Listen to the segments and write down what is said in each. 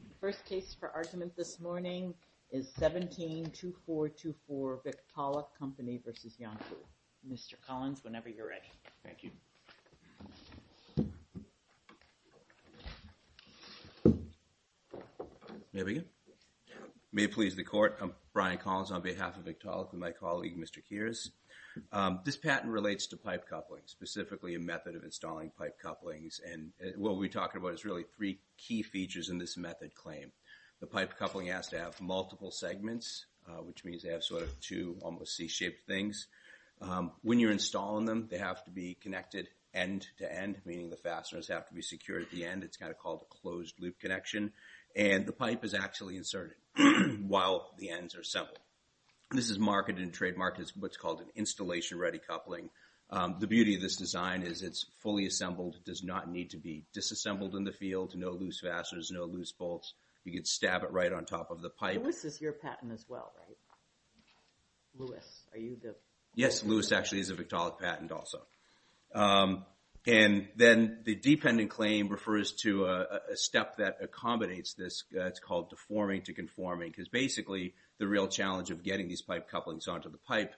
The first case for argument this morning is 17-2424 Victaulic Company v. Iancu. Mr. Collins, whenever you're ready. Thank you. May I begin? May it please the court, I'm Brian Collins on behalf of Victaulic with my colleague Mr. Kears. This patent relates to pipe couplings, specifically a method of installing pipe couplings, and what we're talking about is really three key features in this method claim. The pipe coupling has to have multiple segments, which means they have sort of two almost C-shaped things. When you're installing them, they have to be connected end to end, meaning the fasteners have to be secured at the end. It's kind of called a closed loop connection, and the pipe is actually inserted while the ends are assembled. This is marketed and trademarked as what's called an assembled does not need to be disassembled in the field, no loose fasteners, no loose bolts. You could stab it right on top of the pipe. This is your patent as well, right? Lewis, are you the? Yes, Lewis actually is a Victaulic patent also, and then the dependent claim refers to a step that accommodates this. It's called deforming to conforming because basically the real challenge of getting these pipe couplings onto the pipe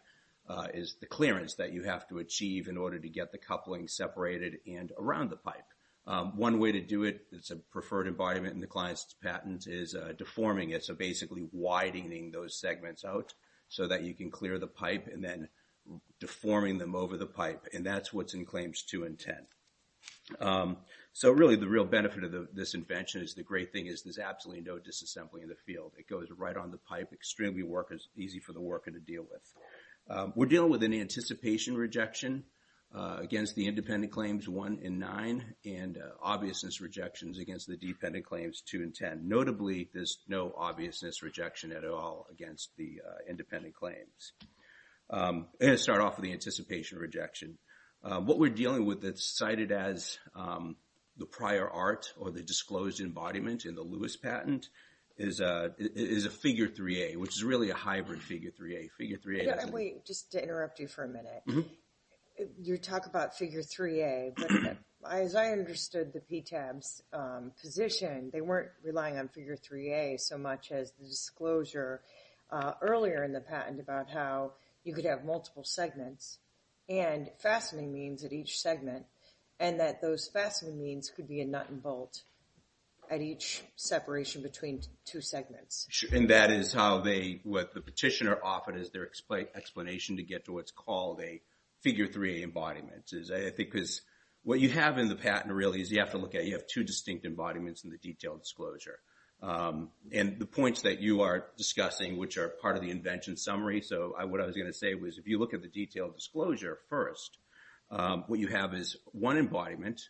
is the clearance that you have to achieve in order to get the coupling separated and around the pipe. One way to do it, it's a preferred environment in the client's patent, is deforming it, so basically widening those segments out so that you can clear the pipe, and then deforming them over the pipe, and that's what's in claims two and ten. So really the real benefit of this invention is the great thing is there's absolutely no disassembly in the field. It goes right on the pipe, extremely easy for the worker to deal with. We're dealing with an anticipation rejection against the independent claims one and nine, and obviousness rejections against the dependent claims two and ten. Notably, there's no obviousness rejection at all against the independent claims. I'm going to start off with the anticipation rejection. What we're dealing with that's cited as the prior art or the disclosed embodiment in the Lewis patent is a figure 3A, which is really a hybrid figure 3A. Figure 3A... Yeah, wait, just to interrupt you for a minute. You talk about figure 3A, but as I understood the PTAB's position, they weren't relying on figure 3A so much as the disclosure earlier in the patent about how you could have multiple segments and fastening means at each segment, and that those fastening means could be a nut and bolt at each separation between two segments. And that is how they, what the petitioner often is their explanation to get to what's called a figure 3A embodiment. I think because what you have in the patent really is you have to look at, you have two distinct embodiments in the detailed disclosure. And the points that you are discussing, which are part of the invention summary, so what I was going to say was if you look at the detailed disclosure first, what you have is one embodiment,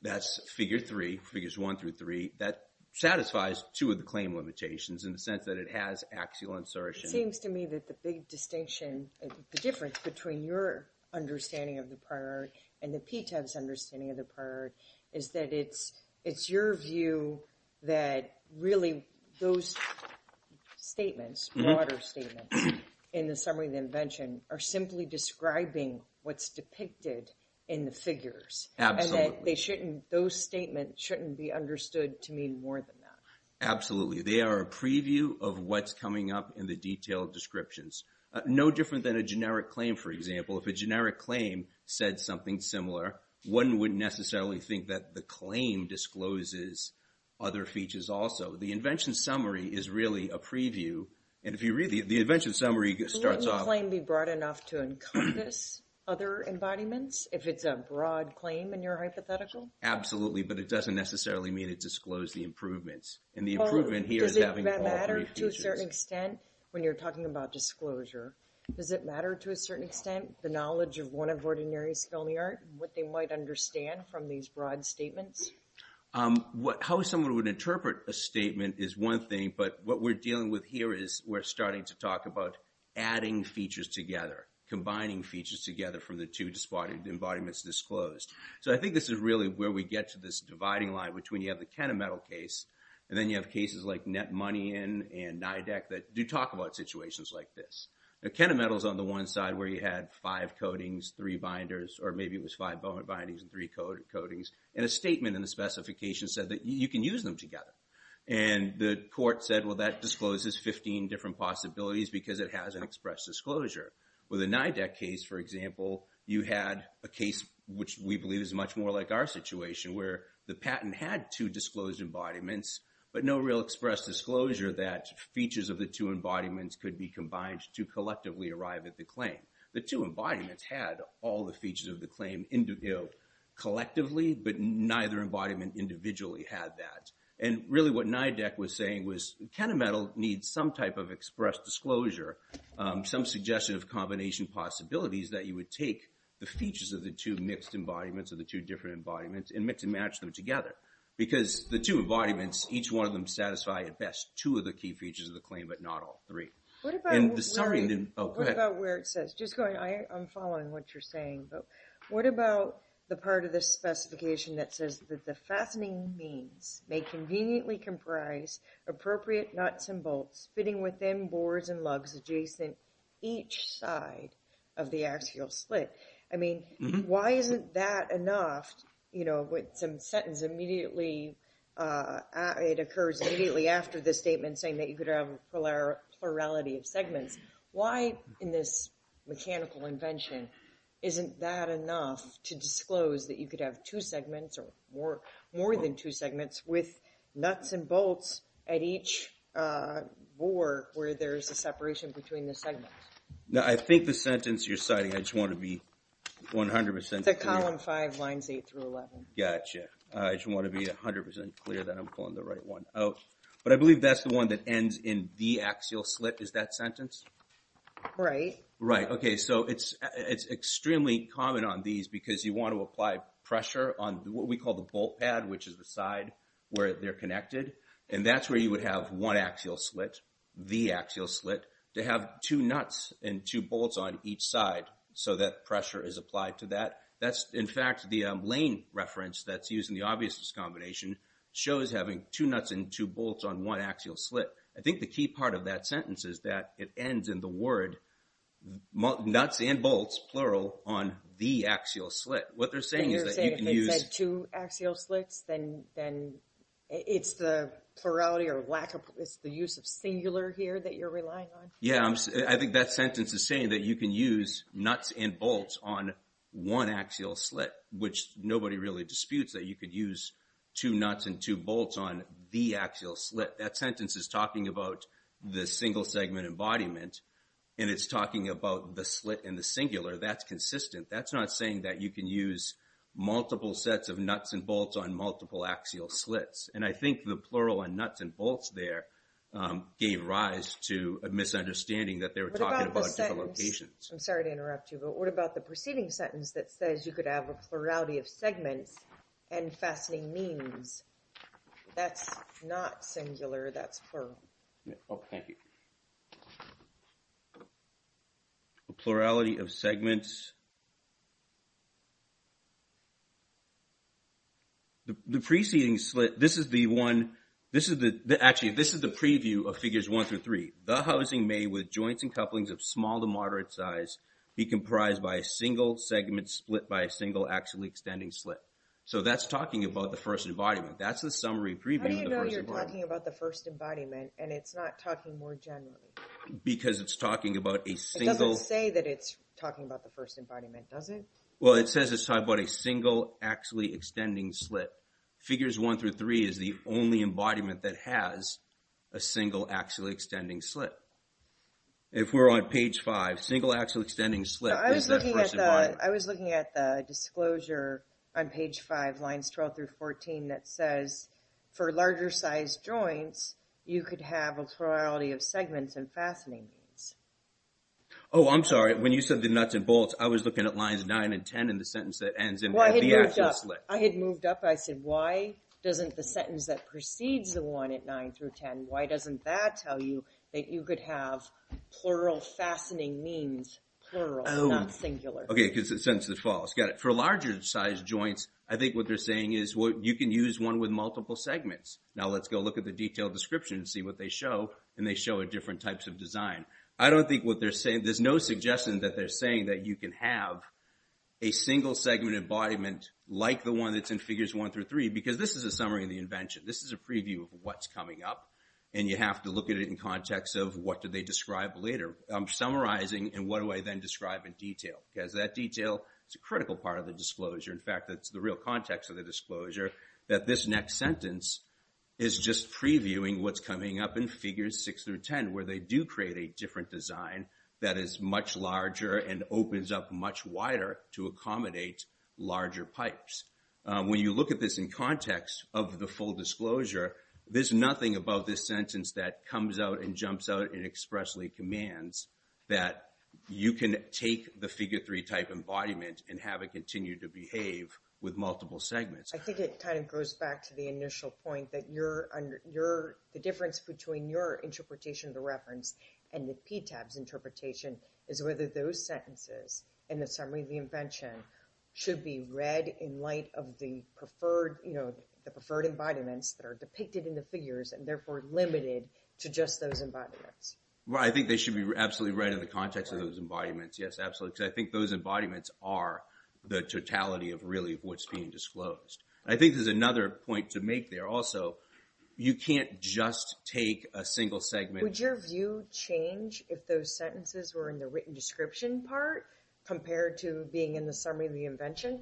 that's figure three, figures one through three, that satisfies two of the claim limitations in the sense that it has axial insertion. It seems to me that the big distinction, the difference between your understanding of the prior art and the PTAB's understanding of the prior art is that it's your view that really those statements, broader statements in the summary of the invention are simply describing what's depicted in the figures. Absolutely. They shouldn't, those statements shouldn't be understood to mean more than that. Absolutely. They are a preview of what's coming up in the detailed descriptions. No different than a generic claim, for example. If a generic claim said something similar, one wouldn't necessarily think that the claim discloses other features also. The invention summary is really a preview. And if you read the invention summary, it starts off... If it's a broad claim in your hypothetical? Absolutely, but it doesn't necessarily mean it disclosed the improvements. And the improvement here is having... Does it matter to a certain extent, when you're talking about disclosure, does it matter to a certain extent the knowledge of one of Ordinary's filmy art, what they might understand from these broad statements? How someone would interpret a statement is one thing, but what we're dealing with here is we're starting to talk about adding features together, combining features together from the two embodiments disclosed. So I think this is really where we get to this dividing line between you have the Kenna Metal case, and then you have cases like Net Money and NIDEC that do talk about situations like this. Kenna Metal is on the one side where you had five coatings, three binders, or maybe it was five bindings and three coatings. And a statement in the specification said that you can use them together. And the court said, well, that discloses 15 different possibilities because it has an express disclosure. With a NIDEC case, for example, you had a case which we believe is much more like our situation where the patent had two disclosed embodiments, but no real express disclosure that features of the two embodiments could be combined to collectively arrive at the claim. The two embodiments had all the features of the claim collectively, but neither embodiment individually had that. And really what NIDEC was saying was Kenna Metal needs some type of express disclosure, some suggestive combination possibilities that you would take the features of the two mixed embodiments or the two different embodiments and mix and match them together. Because the two embodiments, each one of them satisfy at best two of the key features of the claim, but not all three. And the summary... What about where it says, just going, I'm following what you're saying, but what about the part of the specification that says that the fastening means may conveniently comprise appropriate nuts and bolts fitting within boards and lugs adjacent each side of the axial slit? I mean, why isn't that enough? You know, with some sentence immediately, it occurs immediately after the statement saying that you could have plurality of segments. Why in this mechanical invention isn't that enough to disclose that you could have two segments or more than two segments with nuts and bolts at each board where there's a separation between the segments? No, I think the sentence you're citing, I just want to be 100% clear. The column five lines eight through 11. Gotcha. I just want to be 100% clear that I'm pulling the right one out. But I believe that's the one that ends in the axial slit. Is that sentence? Right. Right. Okay. So it's extremely common on these because you want to apply pressure on what we call the bolt pad, which is the side where they're connected. And that's where you would have one axial slit, the axial slit to have two nuts and two bolts on each side so that pressure is applied to that. That's in fact, the lane reference that's used in the obviousness combination shows having two nuts and two bolts on one axial slit. I think the key part of that sentence is that it ends in the word nuts and bolts, plural, on the axial slit. What they're saying is that you can use- You're saying if it's two axial slits, then it's the plurality or lack of, it's the use of singular here that you're relying on? Yeah. I think that sentence is saying that you can use nuts and bolts on one axial slit, which nobody really disputes that you could use two nuts and two bolts on the axial slit. That sentence is talking about the single segment embodiment, and it's talking about the slit and the singular. That's consistent. That's not saying that you can use multiple sets of nuts and bolts on multiple axial slits. And I think the plural on nuts and bolts there gave rise to a misunderstanding that they were talking about different locations. I'm sorry to interrupt you, but what about the preceding sentence that says you could have a singular that's for- Oh, thank you. The plurality of segments. The preceding slit, this is the one- Actually, this is the preview of Figures 1 through 3. The housing may, with joints and couplings of small to moderate size, be comprised by a single segment split by a single axially extending slit. So that's talking about the first embodiment. That's the summary preview of the first embodiment. It's talking about the first embodiment, and it's not talking more generally. Because it's talking about a single- It doesn't say that it's talking about the first embodiment, does it? Well, it says it's talking about a single axially extending slit. Figures 1 through 3 is the only embodiment that has a single axially extending slit. If we're on page 5, single axially extending slit- I was looking at the disclosure on page 5, lines 12 through 14, that says, for larger size joints, you could have a plurality of segments and fastening means. Oh, I'm sorry. When you said the nuts and bolts, I was looking at lines 9 and 10 in the sentence that ends in the axial slit. Well, I had moved up. I said, why doesn't the sentence that precedes the one at 9 through 10, why doesn't that tell you that you could have plural fastening means, plural, not singular? Okay, because the sentence is false. Got it. For larger size joints, I think what they're Now, let's go look at the detailed description and see what they show, and they show different types of design. I don't think what they're saying- There's no suggestion that they're saying that you can have a single segment embodiment like the one that's in figures 1 through 3, because this is a summary of the invention. This is a preview of what's coming up, and you have to look at it in context of what do they describe later. I'm summarizing, and what do I then describe in detail? Because that detail is a critical part of the disclosure. In fact, that's the real context of the disclosure, that this next sentence is just previewing what's coming up in figures 6 through 10, where they do create a different design that is much larger and opens up much wider to accommodate larger pipes. When you look at this in context of the full disclosure, there's nothing about this sentence that comes out and jumps out and expressly commands that you can take the figure 3 type embodiment and have it continue to behave with multiple segments. I think it kind of goes back to the initial point that the difference between your interpretation of the reference and the PTAB's interpretation is whether those sentences in the summary of the invention should be read in light of the preferred embodiments that are depicted in the figures and therefore limited to just those embodiments. Well, I think they should be absolutely read in the context of those embodiments. Yes, because I think those embodiments are the totality of really what's being disclosed. I think there's another point to make there. Also, you can't just take a single segment. Would your view change if those sentences were in the written description part compared to being in the summary of the invention?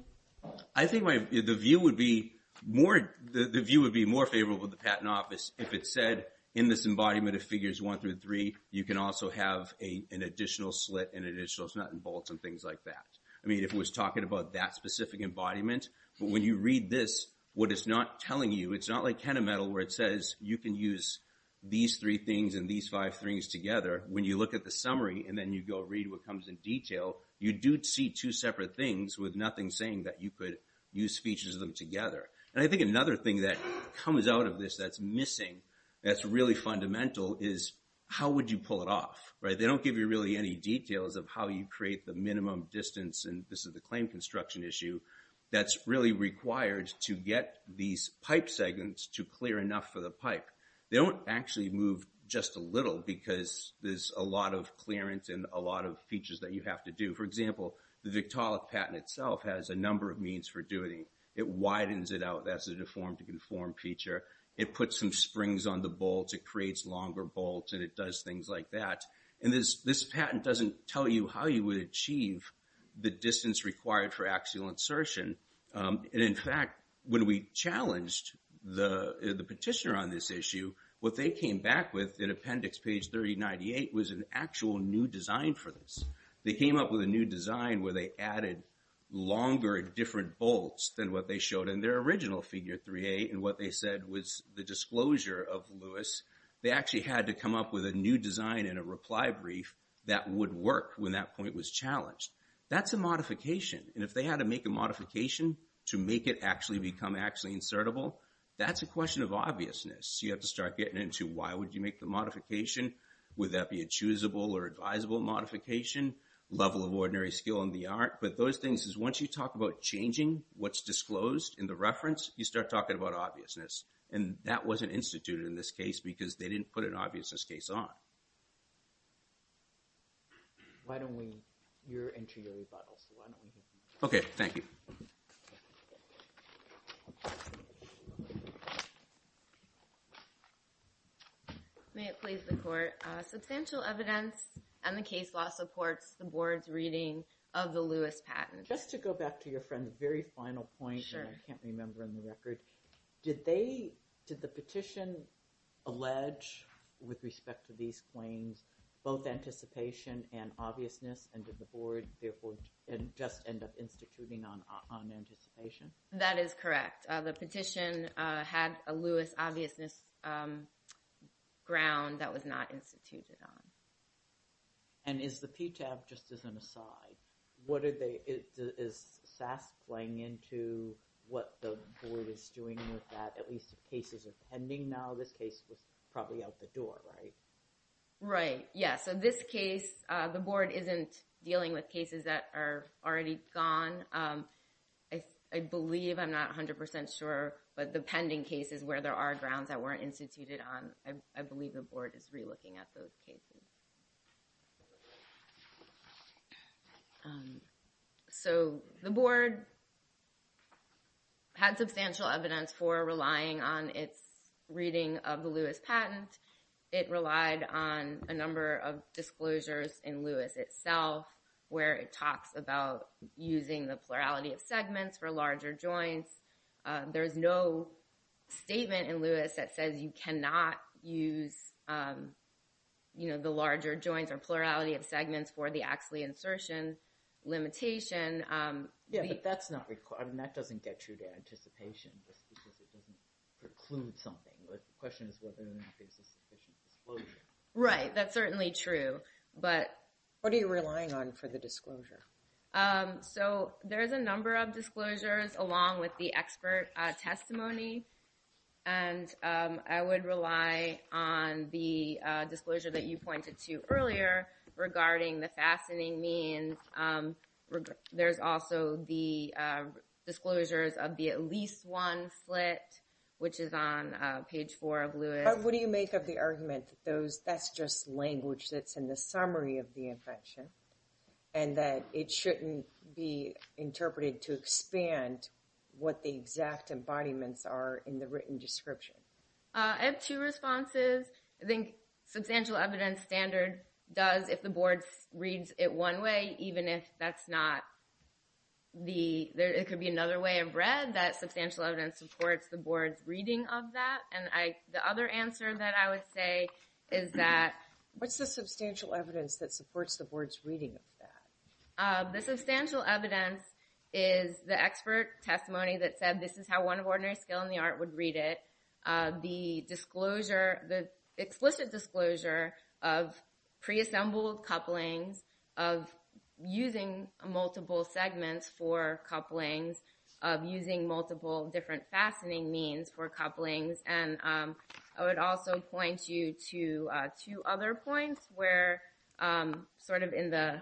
I think the view would be more favorable to the Patent Office if it said, in this embodiment of figures 1 through 3, you can also have an additional slit, an additional snut and bolts, and things like that. I mean, if it was talking about that specific embodiment, but when you read this, what it's not telling you, it's not like KennaMetal where it says, you can use these three things and these five things together. When you look at the summary and then you go read what comes in detail, you do see two separate things with nothing saying that you could use features of them together. I think another thing that comes out of this that's missing, that's really fundamental, is how would you pull it off? They don't give you really any details of how you create the minimum distance, and this is the claim construction issue, that's really required to get these pipe segments to clear enough for the pipe. They don't actually move just a little because there's a lot of clearance and a lot of features that you have to do. For example, the Victaulic patent itself has a number of means for doing it. It widens it out. That's a deform to conform feature. It puts some springs on the bolts. It creates longer bolts, and it does things like that. This patent doesn't tell you how you would achieve the distance required for axial insertion. In fact, when we challenged the petitioner on this issue, what they came back with in appendix page 3098 was an actual new design for this. They came up with a new design where they added longer different bolts than what they showed in their original figure 3A, and what they said was the disclosure of Lewis. They actually had to come up with a new design in a reply brief that would work when that point was challenged. That's a modification, and if they had to make a modification to make it actually become axially insertable, that's a question of obviousness. You have to start getting into why would you make the modification? Would that be a choosable or advisable modification? Level of ordinary skill in the art, but those things is once you talk about changing what's disclosed in the reference, you start talking about obviousness, and that wasn't instituted in this case because they didn't put an obviousness case on. Why don't we... You're into your rebuttal, so why don't we... Okay, thank you. May it please the court. Substantial evidence on the case law supports the board's reading of the Lewis patent. Just to go back to your friend's very final point, and I can't remember in the record, did the petition allege, with respect to these claims, both anticipation and obviousness, and did the board therefore just end up instituting on anticipation? That is correct. The petition had a Lewis obviousness ground that was not instituted on. And is the PTAB just as an aside? What are they... Is SAS playing into what the board is doing with that? At least the cases are pending now. This case was probably out the door, right? Right, yeah. So this case, the board isn't dealing with cases that are already gone. I believe, I'm not 100% sure, but the pending cases where there are grounds that weren't instituted on, I believe the board is relooking at those cases. So the board had substantial evidence for relying on its reading of the Lewis patent. It relied on a number of disclosures in Lewis itself, where it talks about using the plurality of segments for larger joints. There's no statement in Lewis that says you cannot use, you know, the larger joints or plurality of segments for the Axley insertion. Limitation. Yeah, but that's not required, and that doesn't get you to anticipation just because it doesn't preclude something. But the question is whether or not there's a sufficient disclosure. Right, that's certainly true, but... What are you relying on for the disclosure? So there's a number of disclosures along with the expert testimony. And I would rely on the disclosure that you pointed to earlier regarding the fastening means. There's also the disclosures of the at least one slit, which is on page four of Lewis. What do you make of the argument that those, that's just language that's in the summary of the invention, and that it shouldn't be interpreted to expand what the exact embodiments are in the written description? I have two responses. I think substantial evidence standard does if the board reads it one way, even if that's not the, it could be another way of read, that substantial evidence supports the board's reading of that. And the other answer that I would say is that... What's the substantial evidence that supports the board's reading of that? The substantial evidence is the expert testimony that said this is how one of ordinary skill in the art would read it. The disclosure, the explicit disclosure of pre-assembled couplings, of using multiple segments for couplings, of using multiple different fastening means for couplings. And I would also point you to two other points where, sort of in the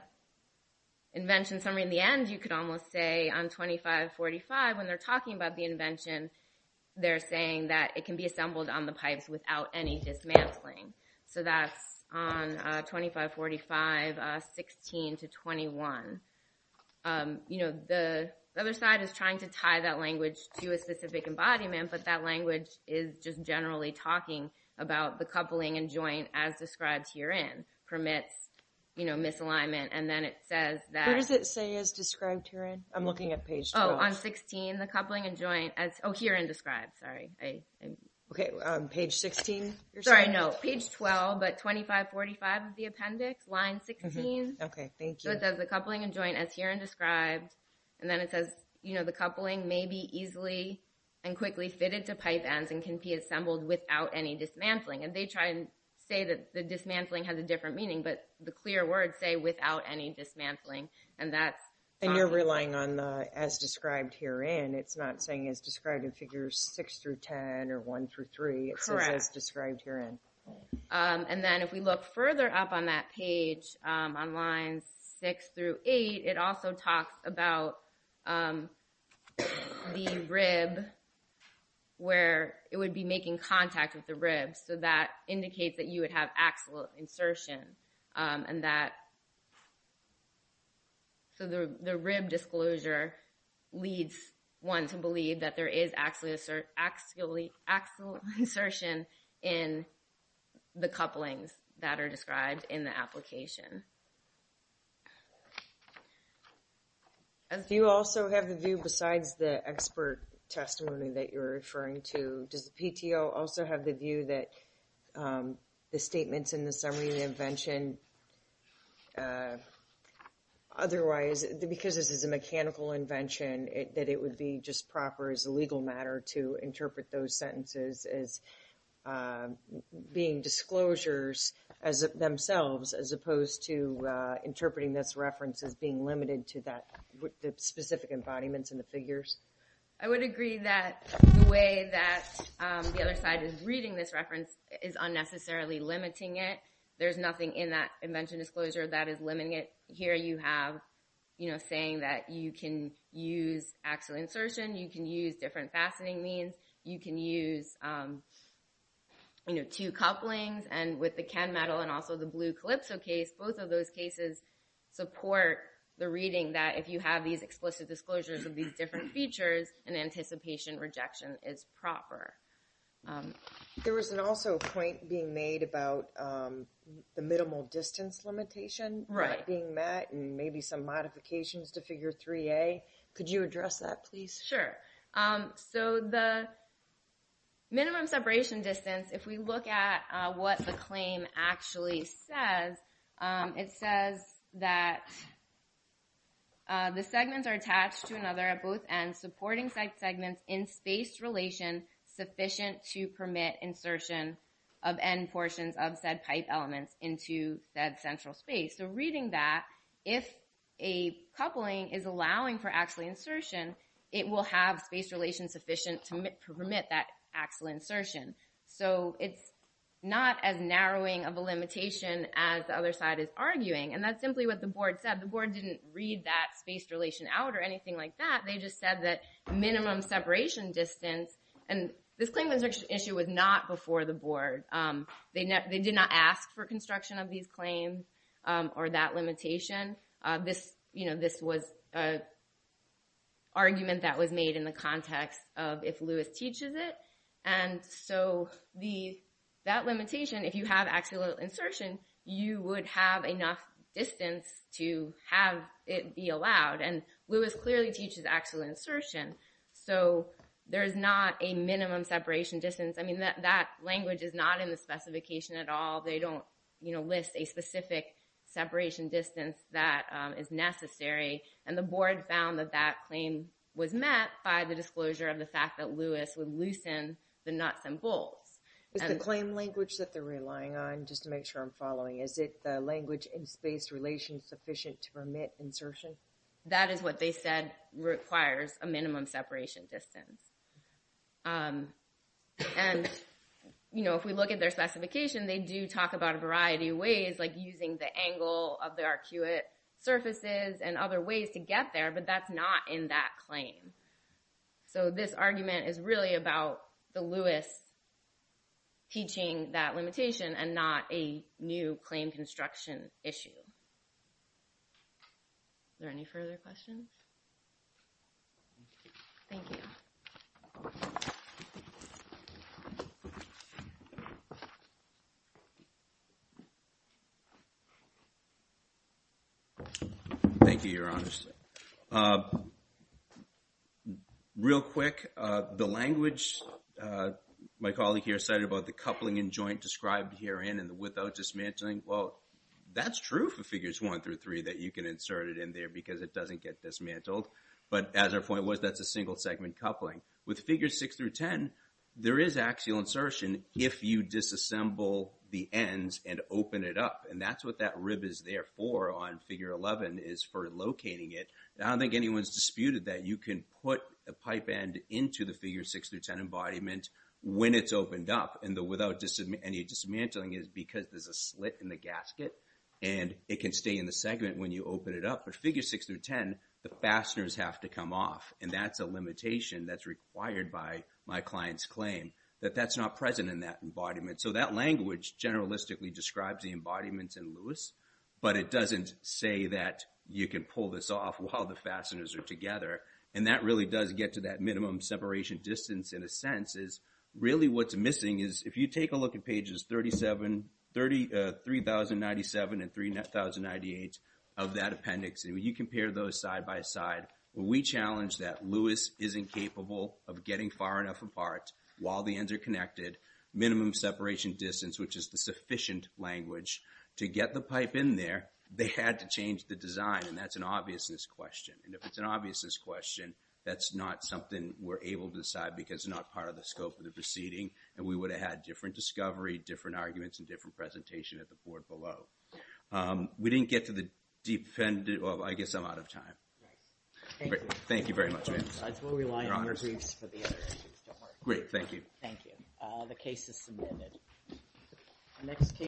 invention summary in the end, you could almost say on 2545 when they're talking about the invention, they're saying that it can be assembled on the pipes without any dismantling. So that's on 2545, 16 to 21. You know, the other side is trying to tie that language to a specific embodiment, but that language is just generally talking about the coupling and joint as described herein permits, you know, misalignment. And then it says that... What does it say as described herein? I'm looking at page 12. On 16, the coupling and joint as... Oh, herein described, sorry. Okay, page 16? Sorry, no, page 12, but 2545 of the appendix, line 16. Okay, thank you. So it says the coupling and joint as herein described. And then it says, you know, the coupling may be easily and quickly fitted to pipe ends and can be assembled without any dismantling. And they try and say that the dismantling has a different meaning, but the clear words say without any dismantling. And that's... And you're relying on the as described herein. It's not saying as described in figures 6 through 10 or 1 through 3. It says as described herein. And then if we look further up on that page, on lines 6 through 8, it also talks about the rib where it would be making contact with the ribs. So that indicates that you would have axle insertion and that... So the rib disclosure leads one to believe that there is axle insertion in the couplings that are described in the application. And do you also have the view besides the expert testimony that you're referring to? Does the PTO also have the view that the statements in the summary of the invention otherwise... Because this is a mechanical invention, that it would be just proper as a legal matter to interpret those sentences as being disclosures as themselves as opposed to interpreting this reference as being limited to that specific embodiments in the figures? I would agree that the way that the other side is reading this reference is unnecessarily limiting it. There's nothing in that invention disclosure that is limiting it. Here you have, you know, saying that you can use axle insertion, you can use different fastening means, you can use, you know, two couplings. And with the Ken metal and also the blue Calypso case, both of those cases support the reading that if you have these explicit disclosures of these different features, an anticipation rejection is proper. There was also a point being made about the minimal distance limitation. Right. And maybe some modifications to figure 3a. Could you address that, please? Sure. So the minimum separation distance, if we look at what the claim actually says, it says that the segments are attached to another at both ends, supporting segments in space relation sufficient to permit insertion of end portions of said pipe elements into that central space. So reading that, if a coupling is allowing for axle insertion, it will have space relation sufficient to permit that axle insertion. So it's not as narrowing of a limitation as the other side is arguing. And that's simply what the board said. The board didn't read that space relation out or anything like that. They just said that minimum separation distance and this claim insertion issue was not before the board. They did not ask for construction of these claims. Or that limitation. This, you know, this was an argument that was made in the context of if Lewis teaches it. And so that limitation, if you have axle insertion, you would have enough distance to have it be allowed. And Lewis clearly teaches axle insertion. So there is not a minimum separation distance. I mean, that language is not in the specification at all. They don't, you know, list a specific separation distance that is necessary. And the board found that that claim was met by the disclosure of the fact that Lewis would loosen the nuts and bolts. Is the claim language that they're relying on, just to make sure I'm following, is it the language in space relation sufficient to permit insertion? That is what they said requires a minimum separation distance. And, you know, if we look at their specification, they do talk about a variety of ways, like using the angle of the arcuate surfaces and other ways to get there. But that's not in that claim. So this argument is really about the Lewis teaching that limitation and not a new claim construction issue. Is there any further questions? Thank you. Thank you, Your Honors. Real quick, the language my colleague here said about the coupling and joint described herein and the without dismantling, well, that's true for figures one through three that you can insert it in there because it doesn't get dismantled. But as our point was, that's a single segment coupling. With figures six through ten, there is axial insertion if you disassemble the ends and open it up. And that's what that rib is there for on figure 11 is for locating it. I don't think anyone's disputed that you can put a pipe end into the figure six through ten embodiment when it's opened up and without any dismantling is because there's a slit in the gasket and it can stay in the segment when you open it up. But figure six through ten, the fasteners have to come off. And that's a limitation that's required by my client's claim that that's not present in that embodiment. So that language generalistically describes the embodiments in Lewis, but it doesn't say that you can pull this off while the fasteners are together. And that really does get to that minimum separation distance in a sense is really what's missing is if you take a look at pages 37, 3,097 and 3,098 of that appendix and you compare those side by side, we challenge that Lewis isn't capable of getting far enough apart while the ends are connected. Minimum separation distance, which is the sufficient language to get the pipe in there, they had to change the design. And that's an obviousness question. And if it's an obviousness question, that's not something we're able to decide because not part of the scope of the proceeding. And we would have had different discovery, different arguments and different presentation at the board below. We didn't get to the defendant. Well, I guess I'm out of time. Thank you. Thank you very much. We'll rely on your briefs for the other issues. Great. Thank you. Thank you. The case is submitted.